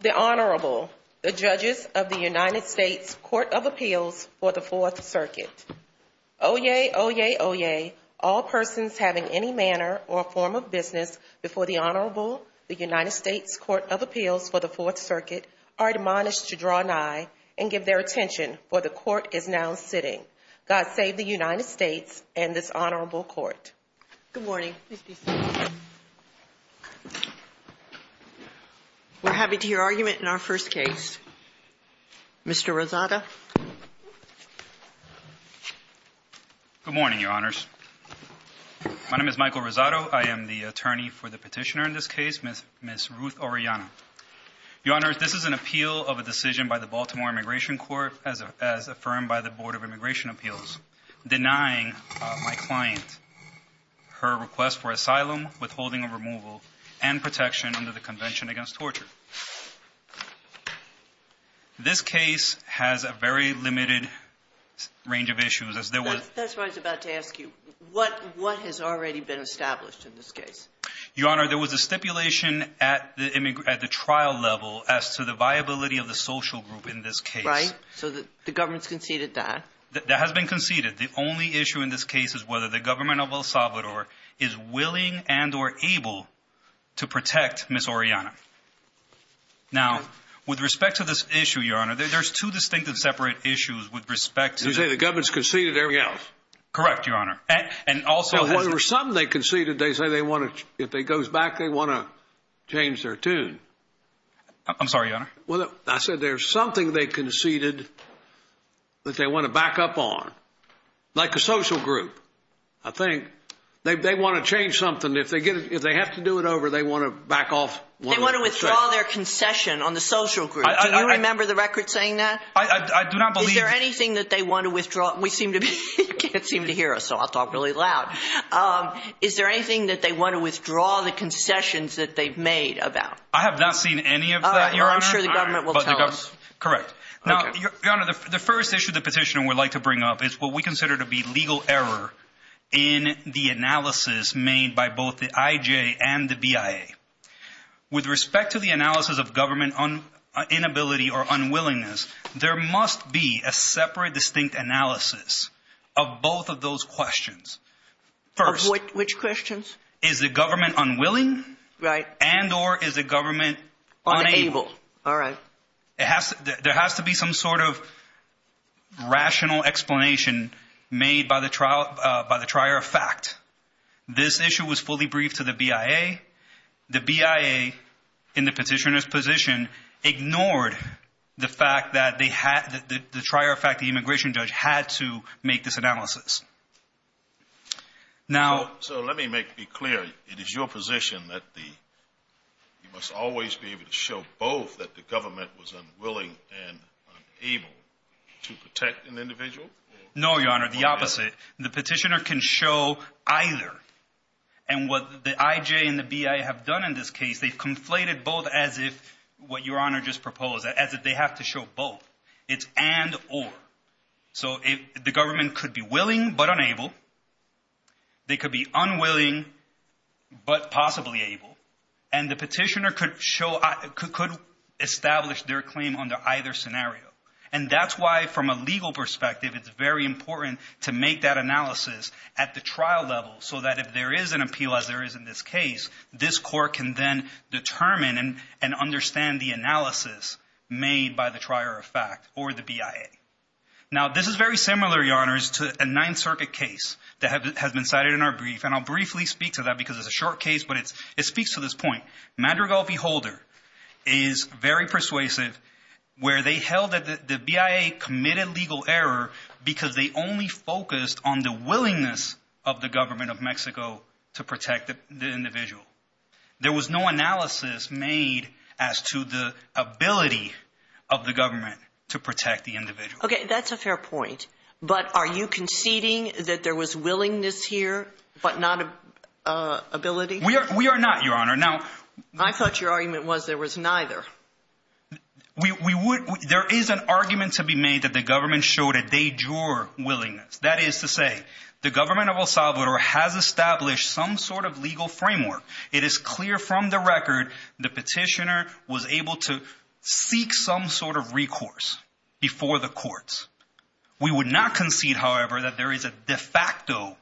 The Honorable, the Judges of the United States Court of Appeals for the Fourth Circuit. Oyez, oyez, oyez, all persons having any manner or form of business before the Honorable, the United States Court of Appeals for the Fourth Circuit, are admonished to draw nigh and give their attention, for the Court is now sitting. God save the United States and this Honorable Court. Good morning. We're happy to hear argument in our first case. Mr. Rosado. Good morning, Your Honors. My name is Michael Rosado. I am the attorney for the petitioner in this case, Ms. Ruth Orellana. Your Honors, this is an appeal of a decision by the Baltimore Immigration Court as affirmed by the Board of Immigration Appeals, denying my client her request for asylum, withholding of removal, and protection under the Convention Against Torture. This case has a very limited range of issues, as there was. That's what I was about to ask you. What, what has already been established in this case? Your Honor, there was a stipulation at the trial level as to the viability of the social group in this case. Right. So the government's conceded that. That has been conceded. The only issue in this case is whether the government of El Salvador is willing and or able to protect Ms. Orellana. Now, with respect to this issue, Your Honor, there's two distinct and separate issues with respect to... You say the government's conceded everything else? Correct, Your Honor. And also... Well, when there's something they conceded, they say they want to, if it goes back, they want to change their tune. I'm sorry, Your Honor. Well, I said there's something they conceded that they want to back up on, like a social group. I think they want to change something. If they get it, if they have to do it over, they want to back off. They want to withdraw their concession on the social group. Do you remember the record saying that? I do not believe... Is there anything that they want to withdraw? We seem to be, you can't seem to hear us, so I'll talk really loud. Is there anything that they want to withdraw the concessions that they've made about? I have not seen any of that, Your Honor. Well, I'm sure the government will tell us. Correct. Now, Your Honor, the first issue the petitioner would like to bring up is what we consider to be legal error in the analysis made by both the IJ and the BIA. With respect to the analysis of government inability or unwillingness, there must be a separate, distinct analysis of both of those questions. First... Which questions? Is the government unwilling? Right. And or is the government unable? All right. There has to be some sort of rational explanation made by the trier of fact. This issue was fully briefed to the BIA. The BIA, in the petitioner's position, ignored the fact that the trier of fact, the immigration judge, had to make this analysis. So let me make it clear, it is your position that you must always be able to show both that the government was unwilling and unable to protect an individual? No, Your Honor, the opposite. The petitioner can show either. And what the IJ and the BIA have done in this case, they've conflated both as if what Your Honor just proposed, as if they have to show both. It's and or. So if the government could be willing but unable, they could be unwilling but possibly able, and the petitioner could show, could establish their claim under either scenario. And that's why, from a legal perspective, it's very important to make that analysis at the trial level so that if there is an appeal, as there is in this case, this court can then determine and understand the analysis made by the trier of fact or the BIA. Now, this is very similar, Your Honor, to a Ninth Circuit case that has been cited in our brief, and I'll briefly speak to that because it's a short case, but it's it speaks to this point. Madrigal v. Holder is very persuasive where they held that the BIA committed legal error because they only focused on the willingness of the government of Mexico to protect the individual. There was no analysis made as to the ability of the government to protect the individual. OK, that's a fair point. But are you conceding that there was willingness here, but not ability? We are we are not, Your Honor. Now, I thought your argument was there was neither. We would there is an argument to be made that the government showed a de jure willingness. That is to say, the government of El Salvador has established some sort of legal framework. It is clear from the record the petitioner was able to seek some sort of recourse before the courts. We would not concede, however, that there is a de facto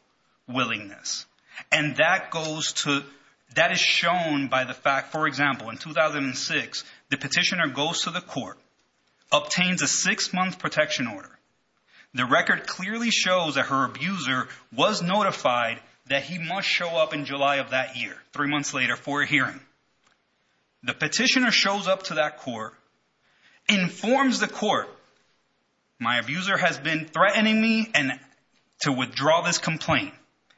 willingness. And that goes to that is shown by the fact, for example, in 2006, the petitioner goes to the court, obtains a six month protection order. The record clearly shows that her abuser was notified that he must show up in July of that year. Three months later for a hearing. The petitioner shows up to that court, informs the court. My abuser has been threatening me and to withdraw this complaint,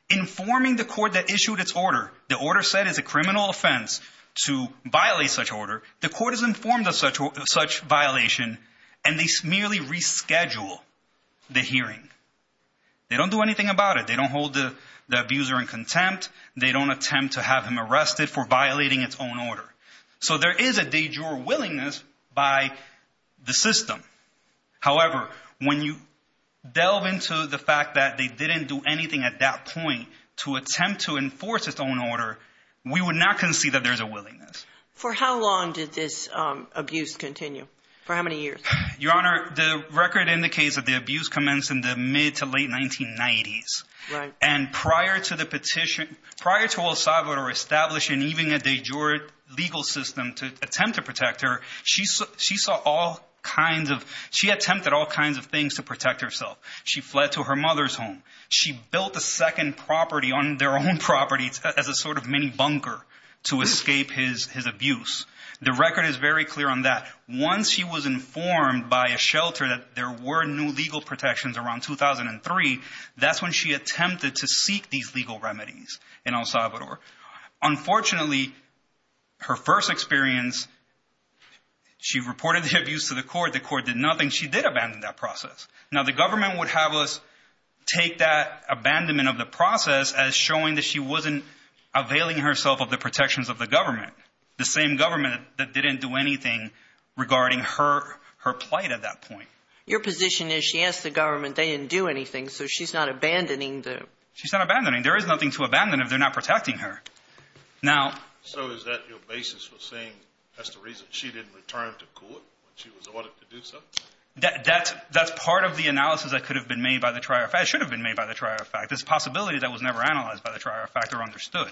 informing the court that issued its order. The order said is a criminal offense to violate such order. The court is informed of such such violation and they merely reschedule the hearing. They don't do anything about it. They don't hold the abuser in contempt. They don't attempt to have him arrested for violating its own order. So there is a de jure willingness by the system. However, when you delve into the fact that they didn't do anything at that point to attempt to enforce its own order, we would not concede that there's a willingness. For how long did this abuse continue? For how many years? Your Honor, the record indicates that the abuse commenced in the mid to late 1990s. And prior to the petition, prior to El Salvador establishing even a de jure legal system to attempt to protect her, she saw all kinds of she attempted all kinds of things to protect herself. She fled to her mother's home. She built a second property on their own property as a sort of mini bunker to escape his abuse. The record is very clear on that. Once she was informed by a shelter that there were no legal protections around 2003, that's when she attempted to seek these legal remedies in El Salvador. Unfortunately, her first experience, she reported the abuse to the court. The court did nothing. She did abandon that process. Now, the government would have us take that abandonment of the process as showing that she wasn't availing herself of the protections of the government. The same government that didn't do anything regarding her, her plight at that point. Your position is she asked the government. They didn't do anything. So she's not abandoning them. She's not abandoning. There is nothing to abandon if they're not protecting her. Now, so is that your basis for saying that's the reason she didn't return to court when she was ordered to do so? That that's that's part of the analysis that could have been made by the trial. It should have been made by the trial. In fact, this possibility that was never analyzed by the trial factor understood.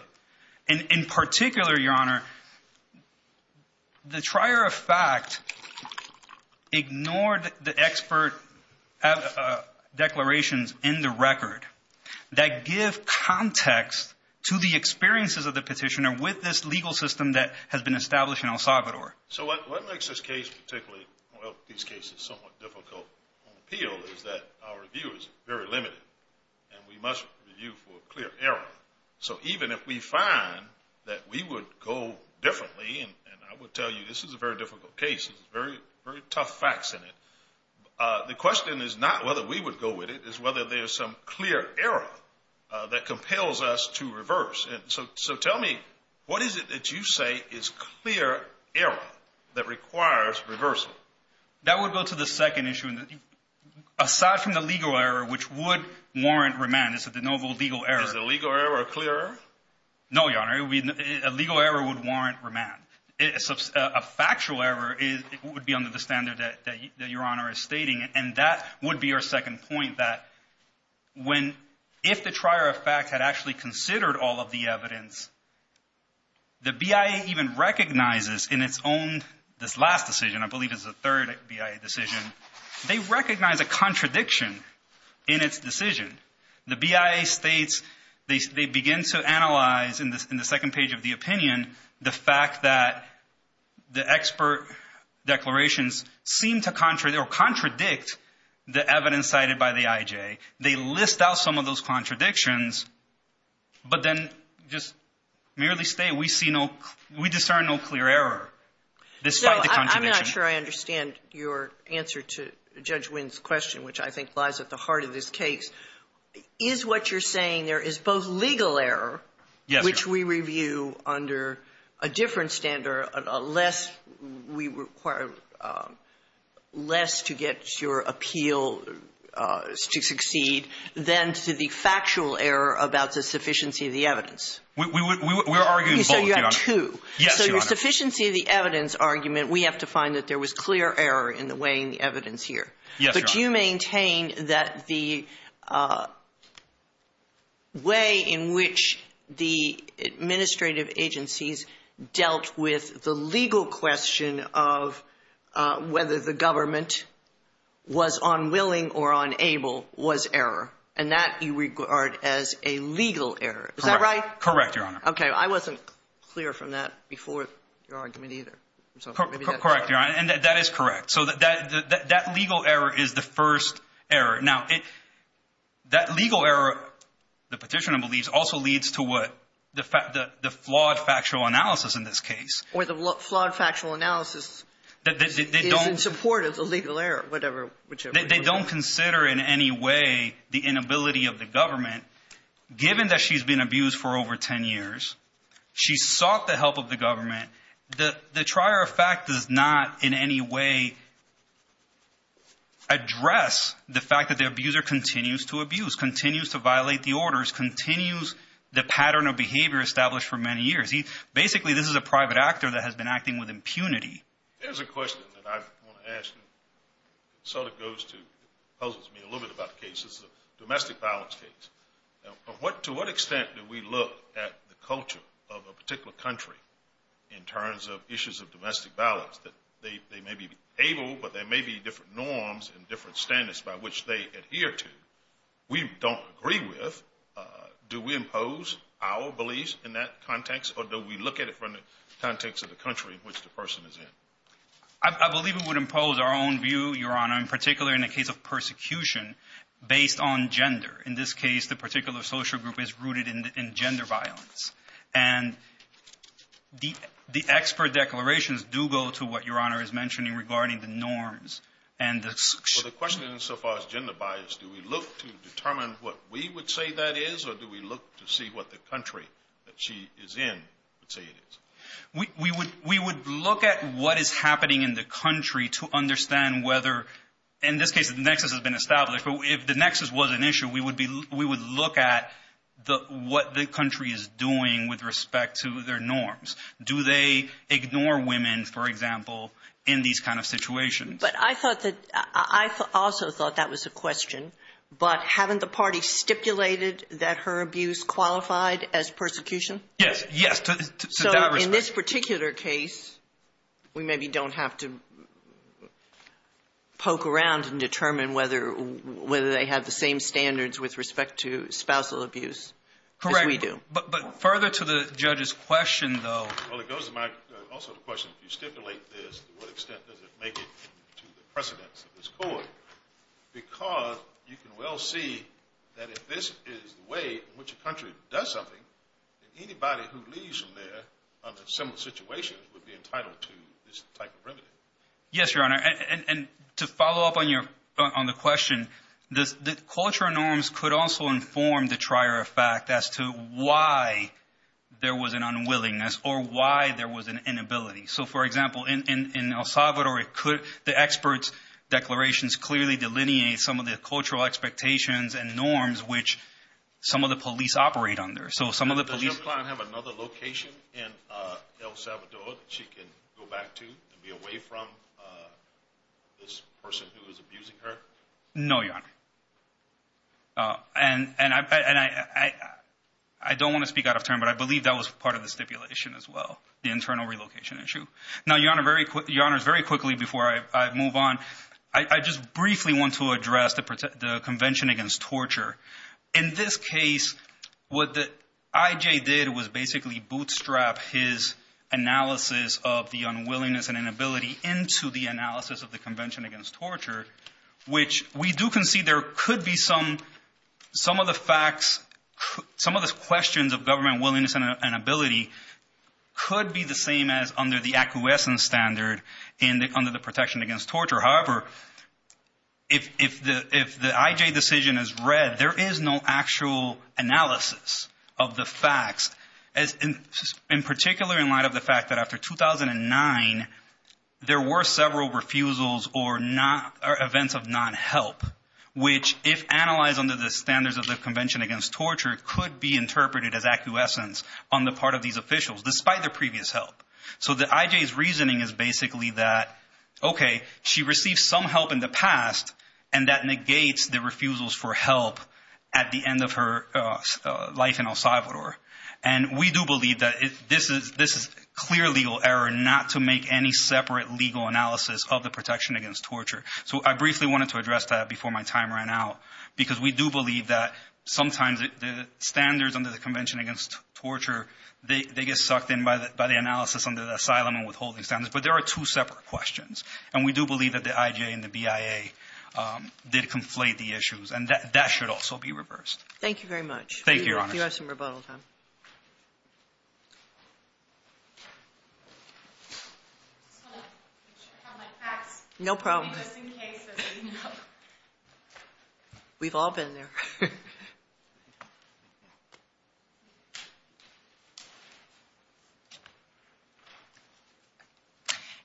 And in particular, Your Honor, the trier of fact ignored the expert declarations in the record that give context to the experiences of the petitioner with this legal system that has been established in El Salvador. So what makes this case particularly well, these cases somewhat difficult on appeal is that our review is very limited and we must review for clear error. So even if we find that we would go differently and I would tell you this is a very difficult case, it's very, very tough facts in it. The question is not whether we would go with it is whether there is some clear error that compels us to reverse. And so so tell me, what is it that you say is clear error that requires reversal? That would go to the second issue. And aside from the legal error, which would warrant remand is that the noble legal error is the legal error. Or a clear no, Your Honor, a legal error would warrant remand. It's a factual error. It would be under the standard that Your Honor is stating. And that would be our second point, that when if the trier of fact had actually considered all of the evidence. The BIA even recognizes in its own this last decision, I believe, is the third decision. They recognize a contradiction in its decision. The BIA states, they begin to analyze in the second page of the opinion, the fact that the expert declarations seem to contradict the evidence cited by the IJ. They list out some of those contradictions, but then just merely state we see no, we discern no clear error. This, I'm not sure I understand your answer to Judge Wynn's question, which I think lies at the heart of this case, is what you're saying. There is both legal error, which we review under a different standard, a less we require less to get your appeal to succeed than to the factual error about the sufficiency of the evidence. We were arguing. So you have two. So your sufficiency of the evidence argument, we have to find that there was clear error in the way in the evidence here. But you maintain that the way in which the administrative agencies dealt with the legal question of whether the government was unwilling or unable was error. And that you regard as a legal error. Is that right? Correct, Your Honor. OK, I wasn't clear from that before your argument either. Correct, Your Honor. And that is correct. So that legal error is the first error. Now, that legal error, the petitioner believes, also leads to what the flawed factual analysis in this case. Or the flawed factual analysis is in support of the legal error, whatever. They don't consider in any way the inability of the government, given that she's been abused for over 10 years. She sought the help of the government. The trier of fact does not in any way address the fact that the abuser continues to abuse, continues to violate the orders, continues the pattern of behavior established for many years. Basically, this is a private actor that has been acting with impunity. There's a question that I want to ask you. It sort of goes to, puzzles me a little bit about the case. It's a domestic violence case. Now, to what extent do we look at the culture of a particular country in terms of issues of domestic violence? That they may be able, but there may be different norms and different standards by which they adhere to. We don't agree with. Do we impose our beliefs in that context? Or do we look at it from the context of the country in which the person is in? I believe it would impose our own view, Your Honor, in particular in the case of persecution based on gender. In this case, the particular social group is rooted in gender violence. And the expert declarations do go to what Your Honor is mentioning regarding the norms. And the question so far is gender bias. Do we look to determine what we would say that is? Or do we look to see what the country that she is in would say it is? We would look at what is happening in the country to understand whether, in this case, the nexus has been established. But if the nexus was an issue, we would look at what the country is doing with respect to their norms. Do they ignore women, for example, in these kind of situations? But I thought that I also thought that was a question. But haven't the party stipulated that her abuse qualified as persecution? Yes. Yes. So in this particular case, we maybe don't have to poke around and determine whether they have the same standards with respect to spousal abuse as we do. But further to the judge's question, though. Well, it goes to my also the question, if you stipulate this, to what extent does it make it to the precedence of this court? Because you can well see that if this is the way in which a country does something, that anybody who leaves from there under similar situations would be entitled to this type of remedy. Yes, Your Honor. And to follow up on your on the question, the cultural norms could also inform the trier of fact as to why there was an unwillingness or why there was an inability. So, for example, in El Salvador, the experts' declarations clearly delineate some of the cultural expectations and norms which some of the police operate under. So some of the police. Does your client have another location in El Salvador that she can go back to and be away from this person who is abusing her? No, Your Honor. And I don't want to speak out of turn, but I believe that was part of the stipulation as well, the internal relocation issue. Now, Your Honor, very quickly, Your Honors, very quickly before I move on, I just briefly want to address the Convention Against Torture. In this case, what the IJ did was basically bootstrap his analysis of the unwillingness and inability into the analysis of the Convention Against Torture, which we do concede there could be some of the facts, some of the questions of government willingness and inability could be the same as under the acquiescence standard under the Protection Against Torture. However, if the IJ decision is read, there is no actual analysis of the facts, in particular in light of the fact that after 2009, there were several refusals or events of non-help, which if analyzed under the standards of the Convention Against Torture, could be interpreted as acquiescence on the part of these officials, despite their previous help. So the IJ's reasoning is basically that, OK, she received some help in the past and that negates the refusals for help at the end of her life in El Salvador. And we do believe that this is a clear legal error not to make any separate legal analysis of the Protection Against Torture. So I briefly wanted to address that before my time ran out, because we do believe that sometimes the standards under the Convention Against Torture, they get sucked in by the analysis under the asylum and withholding standards. But there are two separate questions. And we do believe that the IJ and the BIA did conflate the issues. And that should also be reversed. Thank you very much. Thank you, Your Honors. You have some rebuttal time. No problem. We've all been there.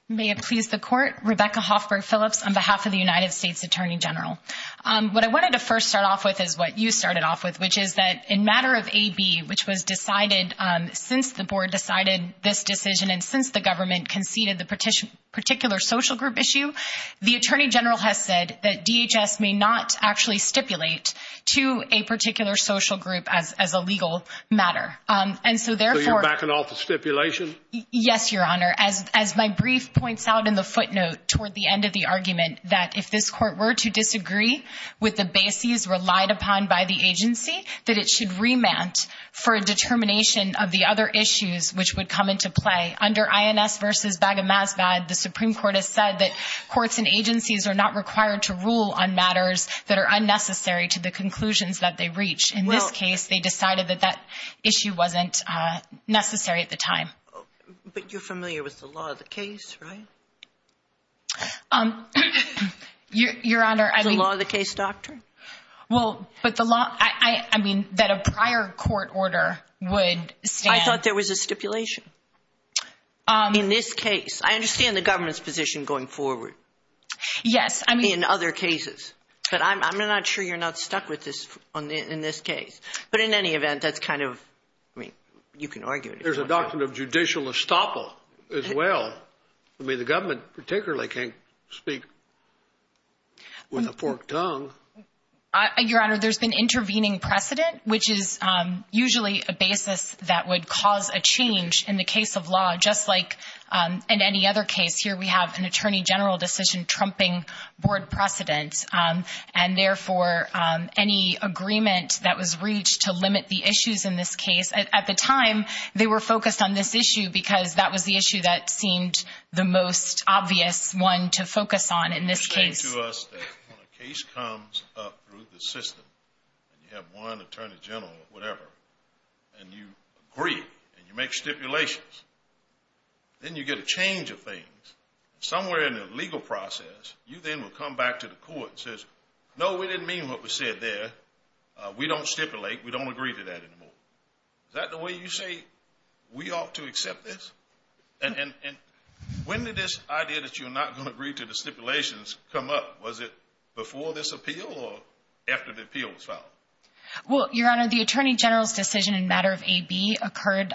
May it please the Court. Rebecca Hoffberg Phillips on behalf of the United States Attorney General. What I wanted to first start off with is what you started off with, which is that in matter of AB, which was decided since the board decided this decision and since the government conceded the particular social group issue, the attorney general has said that DHS may not actually stipulate to a particular social group as a legal matter. And so therefore, backing off the stipulation. Yes, Your Honor. As my brief points out in the footnote toward the end of the argument, that if this court were to disagree with the bases relied upon by the agency, that it should remand for a determination of the other issues which would come into play. Under INS versus Baga Masbad, the Supreme Court has said that courts and agencies are not required to rule on matters that are unnecessary to the conclusions that they reach. In this case, they decided that that issue wasn't necessary at the time. But you're familiar with the law of the case, right? Your Honor, I mean, the law of the case doctrine. Well, but the law, I mean, that a prior court order would say I thought there was a stipulation. In this case, I understand the government's position going forward. Yes, I mean, in other cases, but I'm not sure you're not stuck with this on in this case. But in any event, that's kind of I mean, you can argue it. There's a doctrine of judicial estoppel as well. I mean, the government particularly can't speak with a forked tongue. Your Honor, there's been intervening precedent, which is usually a basis that would cause a change in the case of law, just like in any other case. Here we have an attorney general decision trumping board precedent and therefore any agreement that was reached to limit the issues in this case. At the time, they were focused on this issue because that was the issue that seemed the most obvious one to focus on in this case. You say to us that when a case comes up through the system and you have one attorney general or whatever and you agree and you make stipulations, then you get a change of things somewhere in the legal process. You then will come back to the court and say, no, we didn't mean what we said there. We don't stipulate. We don't agree to that anymore. Is that the way you say we ought to accept this? And when did this idea that you're not going to agree to the stipulations come up? Was it before this appeal or after the appeal was filed? Well, Your Honor, the attorney general's decision in matter of A.B. occurred,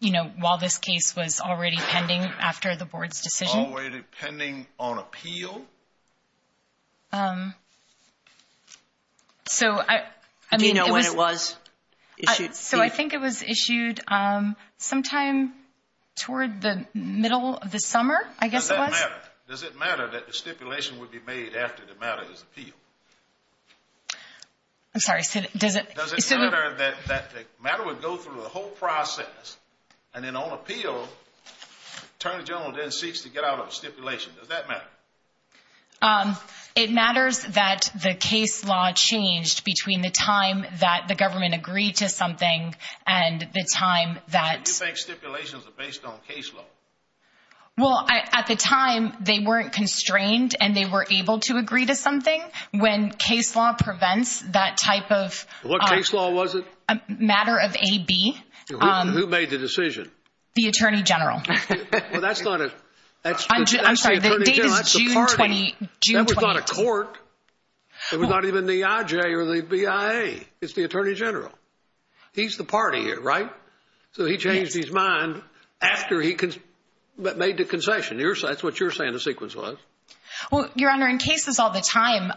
you know, while this case was already pending after the board's decision. Already pending on appeal? So, I mean, do you know when it was issued? So I think it was issued sometime toward the middle of the summer, I guess. Does that matter? Does it matter that the stipulation would be made after the matter is appealed? I'm sorry. Does it matter that the matter would go through the whole process and then on appeal, attorney general then seeks to get out of stipulation? Does that matter? It matters that the case law changed between the time that the government agreed to something and the time that... So you think stipulations are based on case law? Well, at the time, they weren't constrained and they were able to agree to something. When case law prevents that type of... What case law was it? A matter of A.B. Who made the decision? The attorney general. Well, that's not a... I'm sorry. The date is June 20. That was not a court. It was not even the I.J. or the B.I.A. It's the attorney general. He's the party here, right? So he changed his mind after he made the concession. That's what you're saying the sequence was. Well, Your Honor, in cases all the time,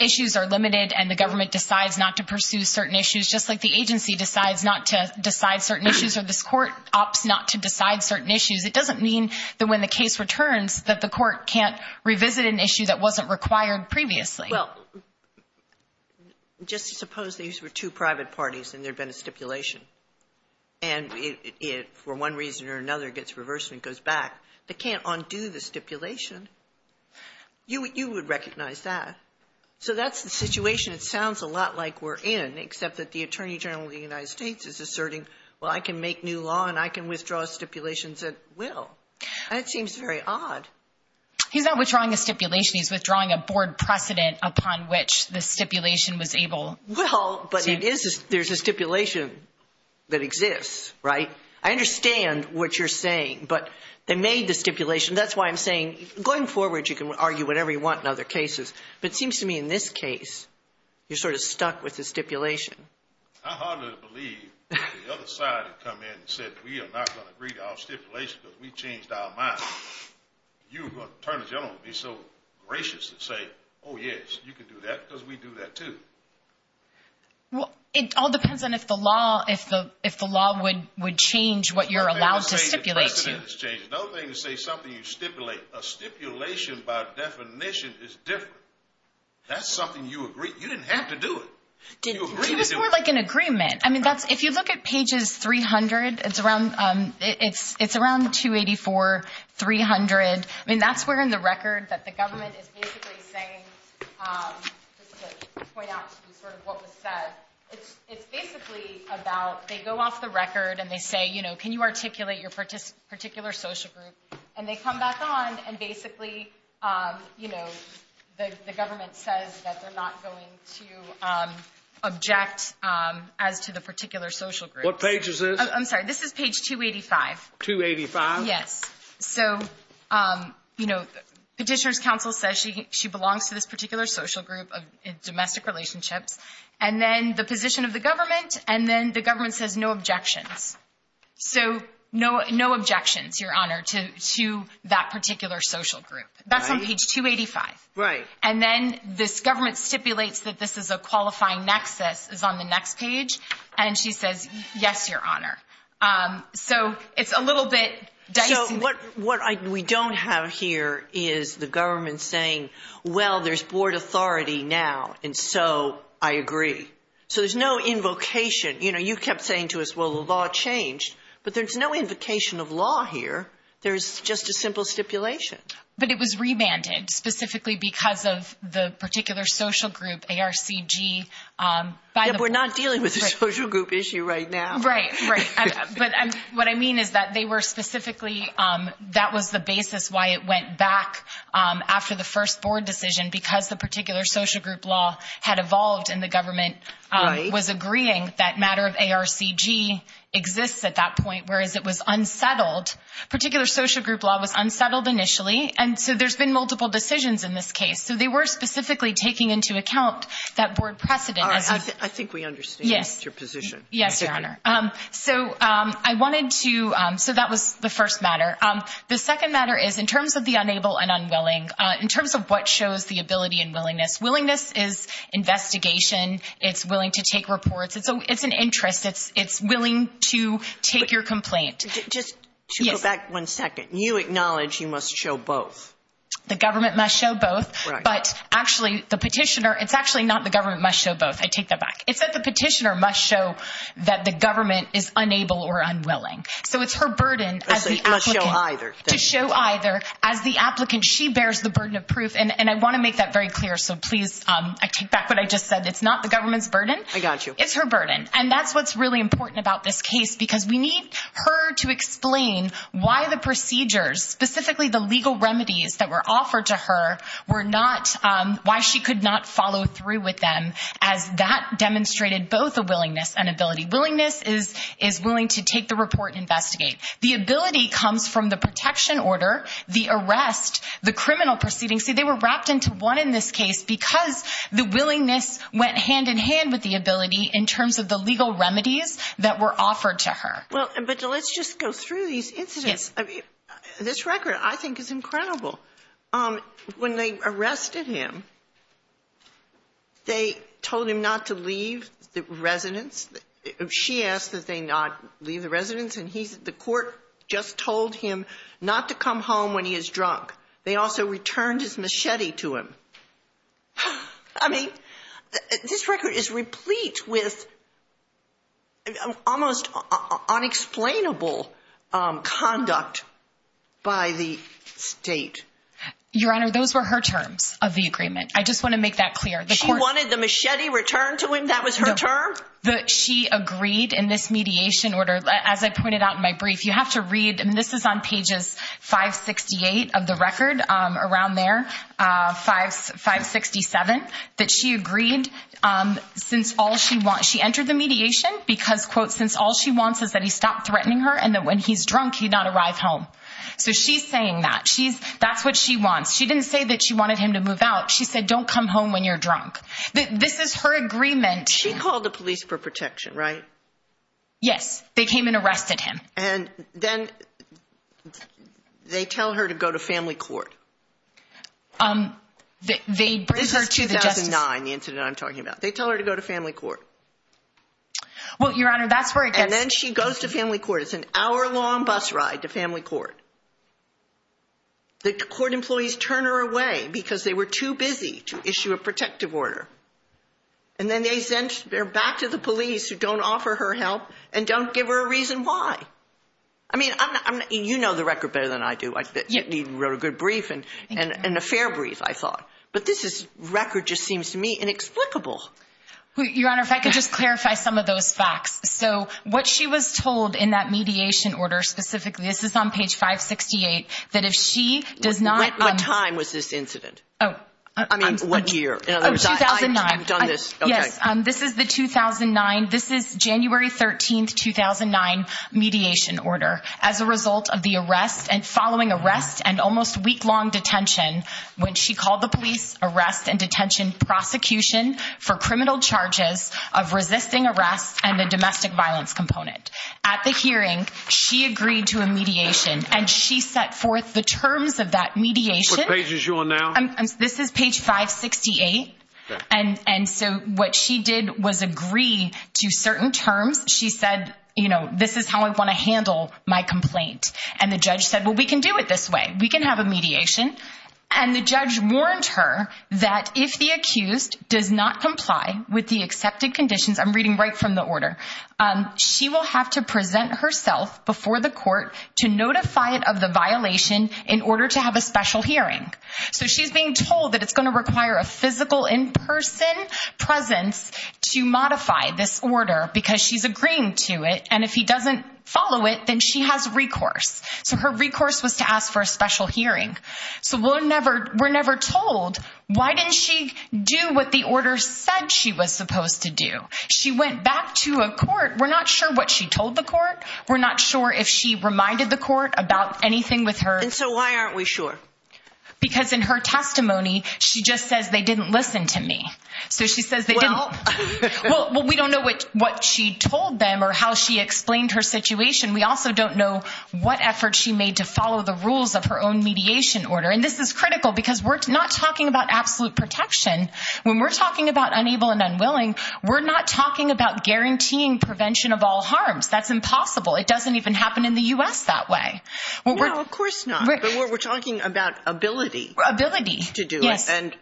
issues are limited and the government decides not to pursue certain issues, just like the agency decides not to decide certain issues or this court opts not to decide certain issues. It doesn't mean that when the case returns, that the court can't revisit an issue that wasn't required previously. Well, just suppose these were two private parties and there'd been a stipulation. And it, for one reason or another, gets reversed and goes back. They can't undo the stipulation. You would recognize that. So that's the situation. It sounds a lot like we're in, except that the attorney general of the United States is asserting, well, I can make new law and I can withdraw stipulations at will. And it seems very odd. He's not withdrawing a stipulation. He's withdrawing a board precedent upon which the stipulation was able. Well, but it is there's a stipulation that exists, right? I understand what you're saying, but they made the stipulation. That's why I'm saying going forward, you can argue whatever you want in other cases. But it seems to me in this case, you're sort of stuck with the stipulation. I hardly believe the other side had come in and said, we are not going to agree to our stipulation because we changed our mind. You, attorney general, would be so gracious and say, oh, yes, you can do that because we do that too. Well, it all depends on if the law, if the law would change what you're allowed to stipulate to. No thing to say something you stipulate. A stipulation by definition is different. That's something you agree. You didn't have to do it. It was more like an agreement. I mean, that's if you look at pages 300, it's around it's it's around 284, 300. I mean, that's where in the record that the government is basically saying, just to point out sort of what was said, it's basically about they go off the record and they say, you know, can you articulate your particular social group? And they come back on and basically, you know, the government says that they're not going to object as to the particular social group. What page is this? I'm sorry. This is page 285. 285. Yes. So, you know, petitioner's counsel says she she belongs to this particular social group of domestic relationships and then the position of the government. And then the government says no objections. So no, no objections, Your Honor, to to that particular social group. That's on page 285. Right. And then this government stipulates that this is a qualifying nexus is on the next page. And she says, yes, Your Honor. So it's a little bit. So what what we don't have here is the government saying, well, there's board authority now. And so I agree. So there's no invocation. You know, you kept saying to us, well, the law changed, but there's no invocation of law here. There's just a simple stipulation. But it was remanded specifically because of the particular social group, ARCG. But we're not dealing with a social group issue right now. Right. Right. But what I mean is that they were specifically that was the basis why it went back after the first board decision, because the particular social group law had evolved. And the government was agreeing that matter of ARCG exists at that point, whereas it was unsettled. Particular social group law was unsettled initially. And so there's been multiple decisions in this case. So they were specifically taking into account that board precedent. I think we understand your position. Yes, Your Honor. So I wanted to. So that was the first matter. The second matter is in terms of the unable and unwilling, in terms of what shows the ability and willingness. Willingness is investigation. It's willing to take reports. It's an interest. It's it's willing to take your complaint. Just to go back one second. You acknowledge you must show both. The government must show both. But actually, the petitioner, it's actually not the government must show both. I take that back. It's that the petitioner must show that the government is unable or unwilling. So it's her burden to show either. As the applicant, she bears the burden of proof. And I want to make that very clear. So please take back what I just said. It's not the government's burden. I got you. It's her burden. And that's what's really important about this case, because we need her to explain why the procedures, specifically the legal remedies that were offered to her, were not why she could not follow through with them as that demonstrated both a willingness and ability. Willingness is is willing to take the report and investigate. The ability comes from the protection order, the arrest, the criminal proceedings. See, they were wrapped into one in this case because the willingness went hand in hand with the ability in terms of the legal remedies that were offered to her. Well, but let's just go through these incidents. This record, I think, is incredible. When they arrested him. They told him not to leave the residence. She asked that they not leave the residence. And he said the court just told him not to come home when he is drunk. They also returned his machete to him. I mean, this record is replete with. Almost unexplainable conduct by the state. Your Honor, those were her terms of the agreement. I just want to make that clear. The court wanted the machete returned to him. That was her term. She agreed in this mediation order. As I pointed out in my brief, you have to read and this is on pages 568 of the record around there. Five five sixty seven that she agreed since all she wants. She entered the mediation because, quote, since all she wants is that he stopped threatening her and that when he's drunk, he not arrive home. So she's saying that she's that's what she wants. She didn't say that she wanted him to move out. She said, don't come home when you're drunk. This is her agreement. She called the police for protection, right? Yes, they came and arrested him. And then they tell her to go to family court. They bring her to the justice. This is 2009, the incident I'm talking about. They tell her to go to family court. Well, Your Honor, that's where it gets. And then she goes to family court. It's an hour long bus ride to family court. The court employees turn her away because they were too busy to issue a protective order. And then they sent her back to the police who don't offer her help and don't give her a reason why. I mean, I'm you know, the record better than I do. I wrote a good brief and an affair brief, I thought. But this is record just seems to me inexplicable. Your Honor, if I could just clarify some of those facts. So what she was told in that mediation order specifically, this is on page 568, that if she does not. What time was this incident? Oh, I mean, what year? 2009. I've done this. Yes. This is the 2009. This is January 13th, 2009 mediation order as a result of the arrest and following arrest and almost weeklong detention when she called the police arrest and detention prosecution for criminal charges of resisting arrest and a domestic violence component. At the hearing, she agreed to a mediation and she set forth the terms of that mediation. What page is you on now? This is page 568. And so what she did was agree to certain terms. She said, you know, this is how I want to handle my complaint. And the judge said, well, we can do it this way. We can have a mediation. And the judge warned her that if the accused does not comply with the accepted conditions, I'm reading right from the order, she will have to present herself before the court to notify it of the violation in order to have a special hearing. So she's being told that it's going to require a physical in-person presence to modify this order because she's agreeing to it. And if he doesn't follow it, then she has recourse. So her recourse was to ask for a special hearing. So we're never told. Why didn't she do what the order said she was supposed to do? She went back to a court. We're not sure what she told the court. We're not sure if she reminded the court about anything with her. And so why aren't we sure? Because in her testimony, she just says they didn't listen to me. So she says, well, we don't know what what she told them or how she explained her situation. We also don't know what effort she made to follow the rules of her own mediation order. And this is critical because we're not talking about absolute protection when we're talking about unable and unwilling. We're not talking about guaranteeing prevention of all harms. That's impossible. It doesn't even happen in the U.S. that way. Well, of course not. But we're talking about ability. Ability to do this. And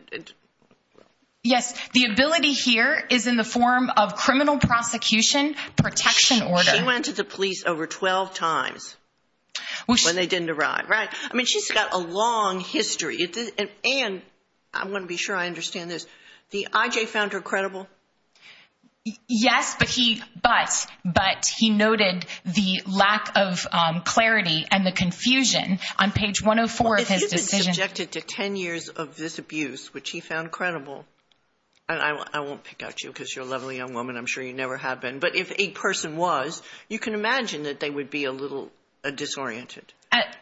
yes, the ability here is in the form of criminal prosecution protection order. She went to the police over 12 times when they didn't arrive. Right. I mean, she's got a long history. And I'm going to be sure I understand this. The I.J. found her credible. Yes, but he but but he noted the lack of clarity and the confusion on page one of four of his decision to 10 years of this abuse, which he found credible. And I won't pick out you because you're a lovely young woman. I'm sure you never have been. But if a person was, you can imagine that they would be a little disoriented.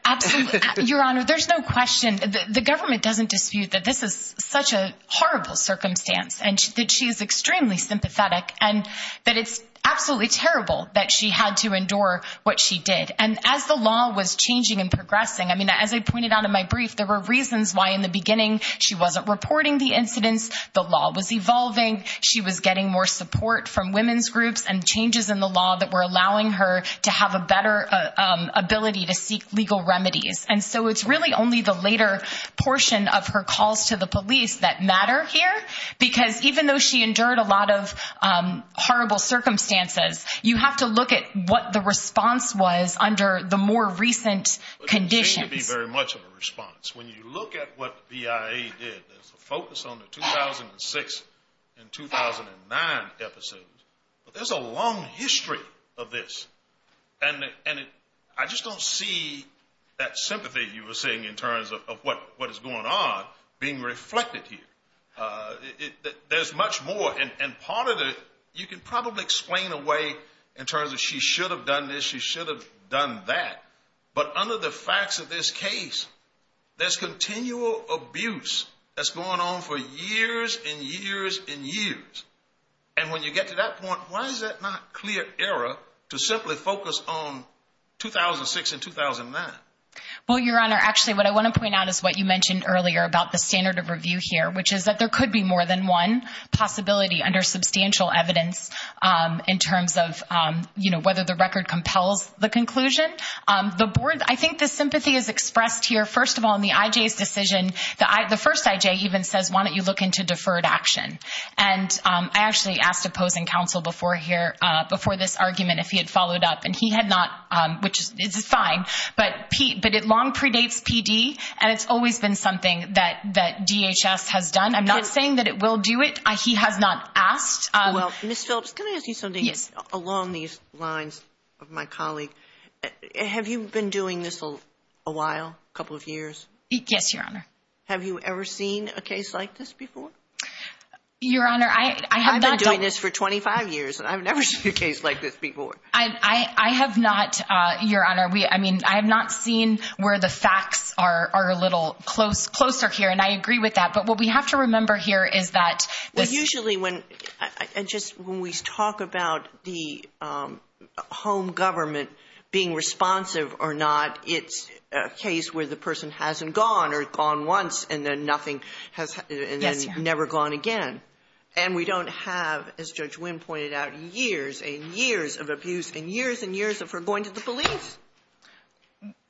Absolutely. Your Honor, there's no question that the government doesn't dispute that this is such a horrible circumstance and that she is extremely sympathetic and that it's absolutely terrible that she had to endure what she did. And as the law was changing and progressing, I mean, as I pointed out in my brief, there were reasons why in the beginning she wasn't reporting the incidents. The law was evolving. She was getting more support from women's groups and changes in the law that were allowing her to have a better ability to seek legal remedies. And so it's really only the later portion of her calls to the police that matter here, because even though she endured a lot of horrible circumstances, you have to look at what the response was under the more recent conditions to be very much of a response. When you look at what the IAEA did focus on the 2006 and 2009 episodes, there's a long history of this. And I just don't see that sympathy you were saying in terms of what is going on being reflected here. There's much more. And part of it, you can probably explain away in terms of she should have done this, she should have done that. But under the facts of this case, there's continual abuse that's going on for years and years and years. And when you get to that point, why is it not clear error to simply focus on 2006 and 2009? Well, Your Honor, actually, what I want to point out is what you mentioned earlier about the standard of review here, which is that there could be more than one possibility under substantial evidence in terms of whether the record compels the conclusion. The board, I think the sympathy is expressed here, first of all, in the IJ's decision. The first IJ even says, why don't you look into deferred action? And I actually asked opposing counsel before here, before this argument, if he had followed up and he had not, which is fine. But it long predates PD. And it's always been something that DHS has done. I'm not saying that it will do it. He has not asked. Well, Ms. Phillips, can I ask you something along these lines of my colleague? Have you been doing this a while, a couple of years? Yes, Your Honor. Have you ever seen a case like this before? Your Honor, I have not done this for 25 years and I've never seen a case like this before. I have not, Your Honor, I mean, I have not seen where the facts are a little closer here. And I agree with that. But what we have to remember here is that usually when I just when we talk about the home government being responsive or not, it's a case where the person hasn't gone or gone once and then nothing has never gone again. And we don't have, as Judge Wynn pointed out, years and years of abuse and years and years of her going to the police.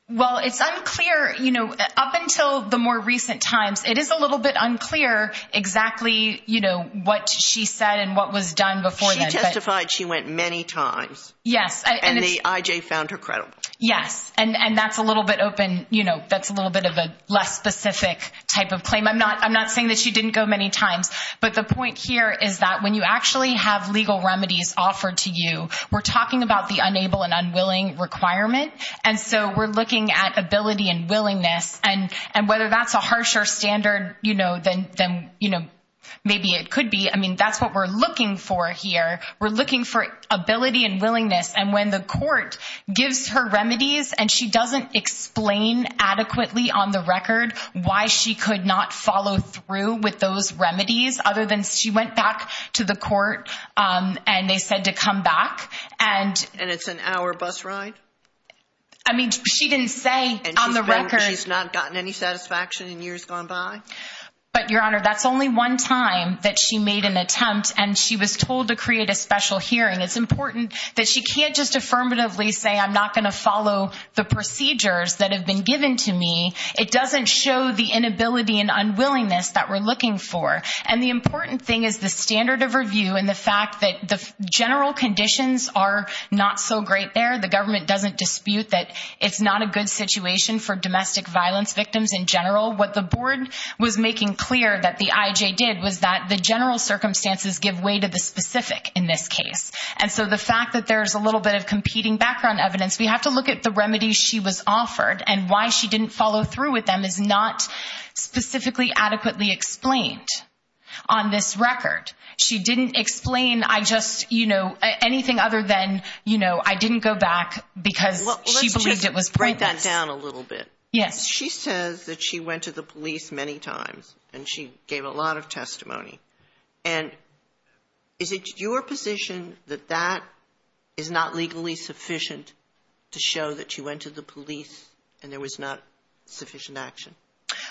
Well, it's unclear, you know, up until the more recent times, it is a little bit unclear exactly, you know, what she said and what was done before that. She testified she went many times. Yes. And the IJ found her credible. Yes. And that's a little bit open, you know, that's a little bit of a less specific type of claim. I'm not I'm not saying that she didn't go many times. But the point here is that when you actually have legal remedies offered to you, we're talking about the unable and unwilling requirement. And so we're looking at ability and willingness. And and whether that's a harsher standard, you know, then, you know, maybe it could be. I mean, that's what we're looking for here. We're looking for ability and willingness. And when the court gives her remedies and she doesn't explain adequately on the record why she could not follow through with those remedies other than she went back to the court and they said to come back and. And it's an hour bus ride. I mean, she didn't say on the record. She's not gotten any satisfaction in years gone by. But, Your Honor, that's only one time that she made an attempt and she was told to create a special hearing. It's important that she can't just affirmatively say, I'm not going to follow the procedures that have been given to me. It doesn't show the inability and unwillingness that we're looking for. And the important thing is the standard of review and the fact that the general conditions are not so great there. The government doesn't dispute that it's not a good situation for domestic violence victims in general. What the board was making clear that the IJ did was that the general circumstances give way to the specific in this case. And so the fact that there's a little bit of competing background evidence, we have to look at the remedies she was offered and why she didn't follow through with them is not specifically adequately explained on this record. She didn't explain. I just, you know, anything other than, you know, I didn't go back because she believed it was. Write that down a little bit. Yes. She says that she went to the police many times and she gave a lot of testimony. And is it your position that that is not legally sufficient to show that you went to the police and there was not sufficient action?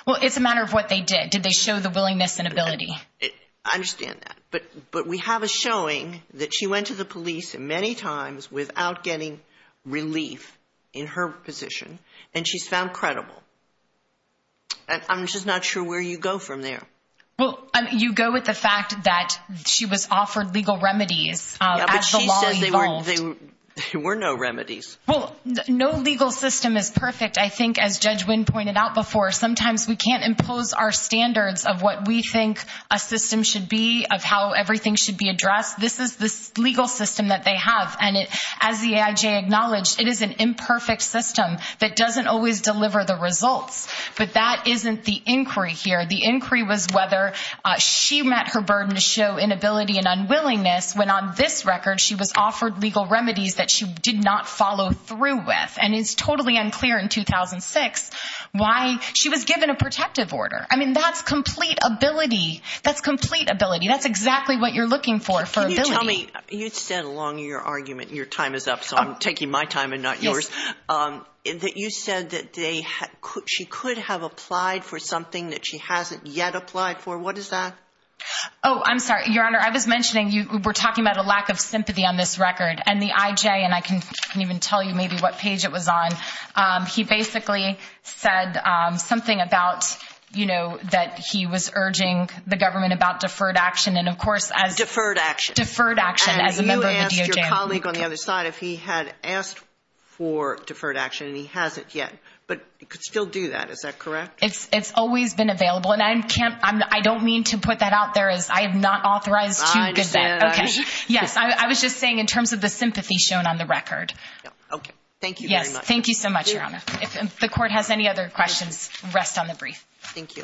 Well, it's a matter of what they did. Did they show the willingness and ability? I understand that. But but we have a showing that she went to the police and many times without getting relief in her position. And she's found credible. And I'm just not sure where you go from there. Well, you go with the fact that she was offered legal remedies as the law evolved. There were no remedies. Well, no legal system is perfect. I think as Judge Wynn pointed out before, sometimes we can't impose our standards of what we think a system should be, of how everything should be addressed. This is the legal system that they have. And as the AIJ acknowledged, it is an imperfect system that doesn't always deliver the results. But that isn't the inquiry here. The inquiry was whether she met her burden to show inability and unwillingness when on this record, she was offered legal remedies that she did not follow through with. And it's totally unclear in 2006 why she was given a protective order. I mean, that's complete ability. That's complete ability. That's exactly what you're looking for. You said along your argument, your time is up, so I'm taking my time and not yours, that you said that she could have applied for something that she hasn't yet applied for. What is that? Oh, I'm sorry, Your Honor. I was mentioning you were talking about a lack of sympathy on this record and the AIJ. And I can even tell you maybe what page it was on. He basically said something about, you know, that he was urging the government about deferred action. And, of course, as deferred action, deferred action as a member of the DOJ, you asked your colleague on the other side if he had asked for deferred action and he hasn't yet. But you could still do that. Is that correct? It's it's always been available. And I can't I don't mean to put that out there as I have not authorized. I understand. OK, yes. I was just saying in terms of the sympathy shown on the record. OK, thank you. Yes. Thank you so much, Your Honor. If the court has any other questions, rest on the brief. Thank you.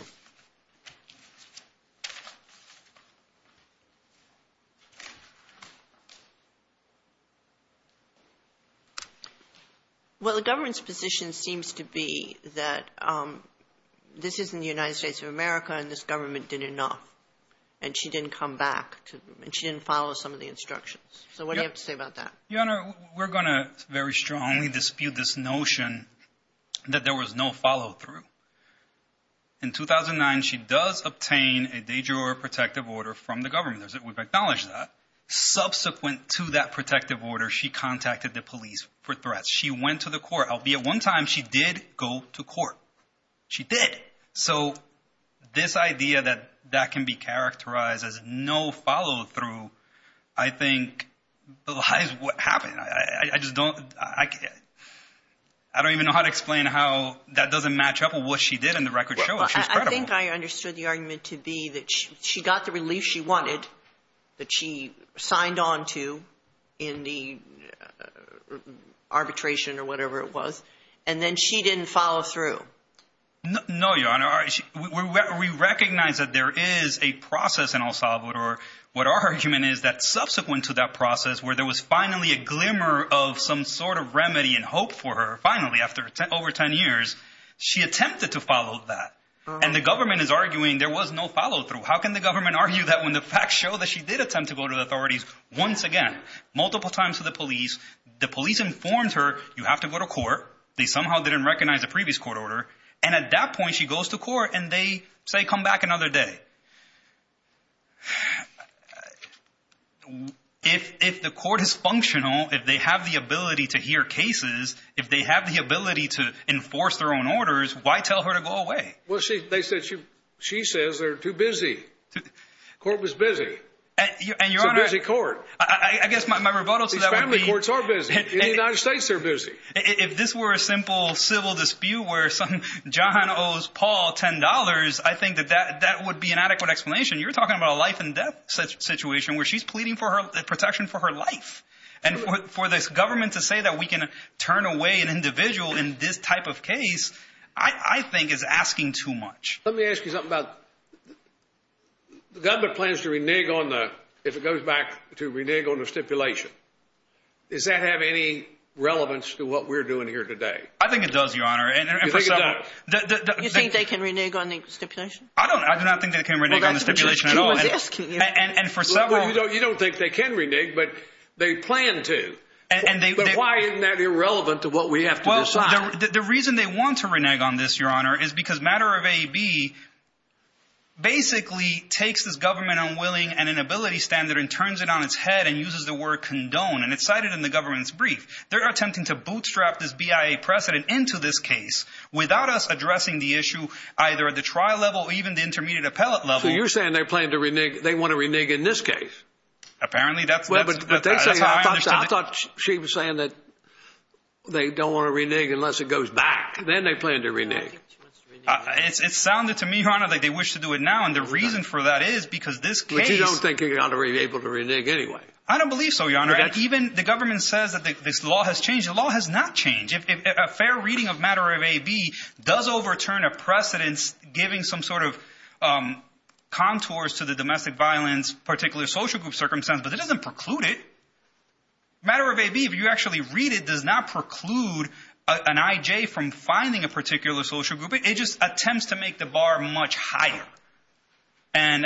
Well, the government's position seems to be that this is in the United States of America and this government did enough and she didn't come back to them and she didn't follow some of the instructions. So what do you have to say about that? Your Honor, we're going to very strongly dispute this notion that there was no follow through. In 2009, she does obtain a daydrewer protective order from the government. We've acknowledged that subsequent to that protective order, she contacted the police for threats. She went to the court. Albeit one time she did go to court. She did. So this idea that that can be characterized as no follow through, I think lies what happened. I just don't I I don't even know how to explain how that doesn't match up with what she did in the record show. I think I understood the argument to be that she got the relief she wanted, that she signed on to in the arbitration or whatever it was, and then she didn't follow through. No, Your Honor, we recognize that there is a process in El Salvador. What our argument is that subsequent to that process where there was finally a glimmer of some sort of remedy and hope for her, finally, after over 10 years, she attempted to follow that. And the government is arguing there was no follow through. How can the government argue that when the facts show that she did attempt to go to the authorities once again, multiple times to the police? The police informed her you have to go to court. They somehow didn't recognize the previous court order. And at that point, she goes to court and they say, come back another day. If if the court is functional, if they have the ability to hear cases, if they have the ability to enforce their own orders, why tell her to go away? Well, she they said she she says they're too busy. Court was busy. And you're a busy court. I guess my rebuttal to the family courts are busy in the United States. They're busy. If this were a simple civil dispute where some John owes Paul ten dollars, I think that that that would be an adequate explanation. You're talking about a life and death situation where she's pleading for her protection for her life and for this government to say that we can turn away an individual in this type of case, I think is asking too much. Let me ask you something about the government plans to renege on the if it goes back to renege on the stipulation. Does that have any relevance to what we're doing here today? I think it does, Your Honor. And you think they can renege on the stipulation? I don't I do not think they can renege on the stipulation at all. Yes. And for several, you don't you don't think they can renege, but they plan to. And why isn't that irrelevant to what we have? Well, the reason they want to renege on this, Your Honor, is because matter of a B. Basically takes this government unwilling and inability standard and turns it on its head and uses the word condone, and it's cited in the government's brief. They're attempting to bootstrap this BIA precedent into this case without us addressing the issue either at the trial level or even the intermediate appellate level. So you're saying they're planning to renege. They want to renege in this case. Apparently, that's what they say. I thought she was saying that they don't want to renege unless it goes back. Then they plan to renege. It sounded to me, Your Honor, that they wish to do it now. And the reason for that is because this case, I don't think you're going to be able to renege anyway. I don't believe so, Your Honor. And even the government says that this law has changed. The law has not changed. If a fair reading of matter of a B does overturn a precedence, giving some sort of contours to the domestic violence, particular social group circumstance. But it doesn't preclude it. Matter of a B, if you actually read it, does not preclude an IJ from finding a particular social group. It just attempts to make the bar much higher. And,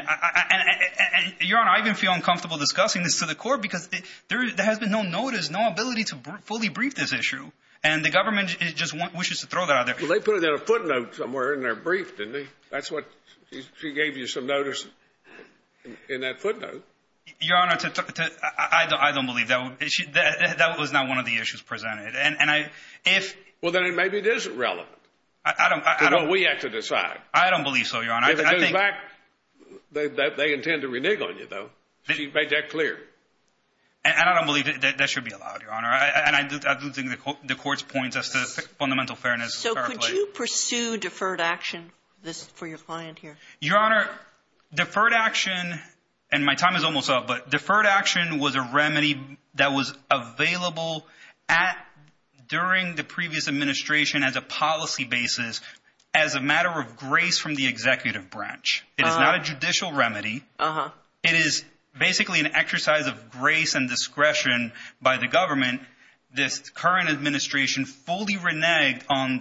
Your Honor, I even feel uncomfortable discussing this to the court because there has been no notice, no ability to fully brief this issue. And the government just wishes to throw that out there. Well, they put it in a footnote somewhere in their brief, didn't they? That's what she gave you, some notice in that footnote. Your Honor, I don't believe that was not one of the issues presented. And if. Well, then maybe it isn't relevant to what we have to decide. I don't believe so, Your Honor. If it goes back, they intend to renege on you, though. She made that clear. And I don't believe that should be allowed, Your Honor. And I don't think the court's point as to fundamental fairness. So could you pursue deferred action for your client here? Your Honor, deferred action and my time is almost up, but deferred action was a remedy that was available at during the previous administration as a policy basis as a matter of grace from the executive branch. It is not a judicial remedy. It is basically an exercise of grace and discretion by the government. This current administration fully reneged on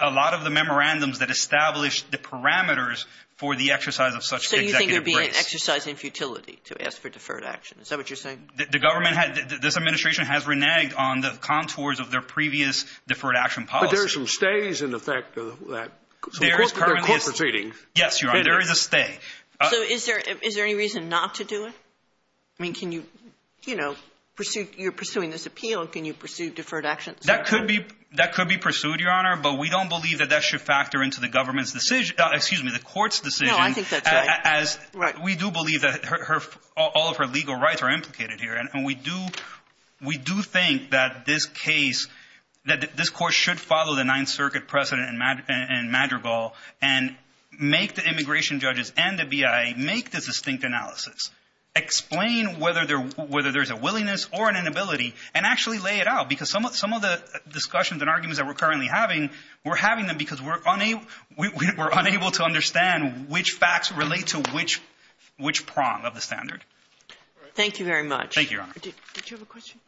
a lot of the memorandums that established the parameters for the exercise of such. So you think it would be an exercise in futility to ask for deferred action? Is that what you're saying? The government had this administration has reneged on the contours of their previous deferred action policy. There's some stays in effect of that. So the court proceeding. Yes, Your Honor, there is a stay. So is there is there any reason not to do it? I mean, can you, you know, pursue you're pursuing this appeal and can you pursue deferred action? That could be that could be pursued, Your Honor. But we don't believe that that should factor into the government's decision. Excuse me, the court's decision, as we do believe that all of her legal rights are implicated here. And we do we do think that this case that this court should follow the Ninth Circuit precedent in Madrigal and make the immigration judges and the BIA make the distinct analysis. Explain whether they're whether there's a willingness or an inability and actually lay it out, because some of some of the discussions and arguments that we're currently having, we're having them because we're unable we're unable to understand which facts relate to which which prong of the standard. Thank you very much. Thank you. Did you have a question?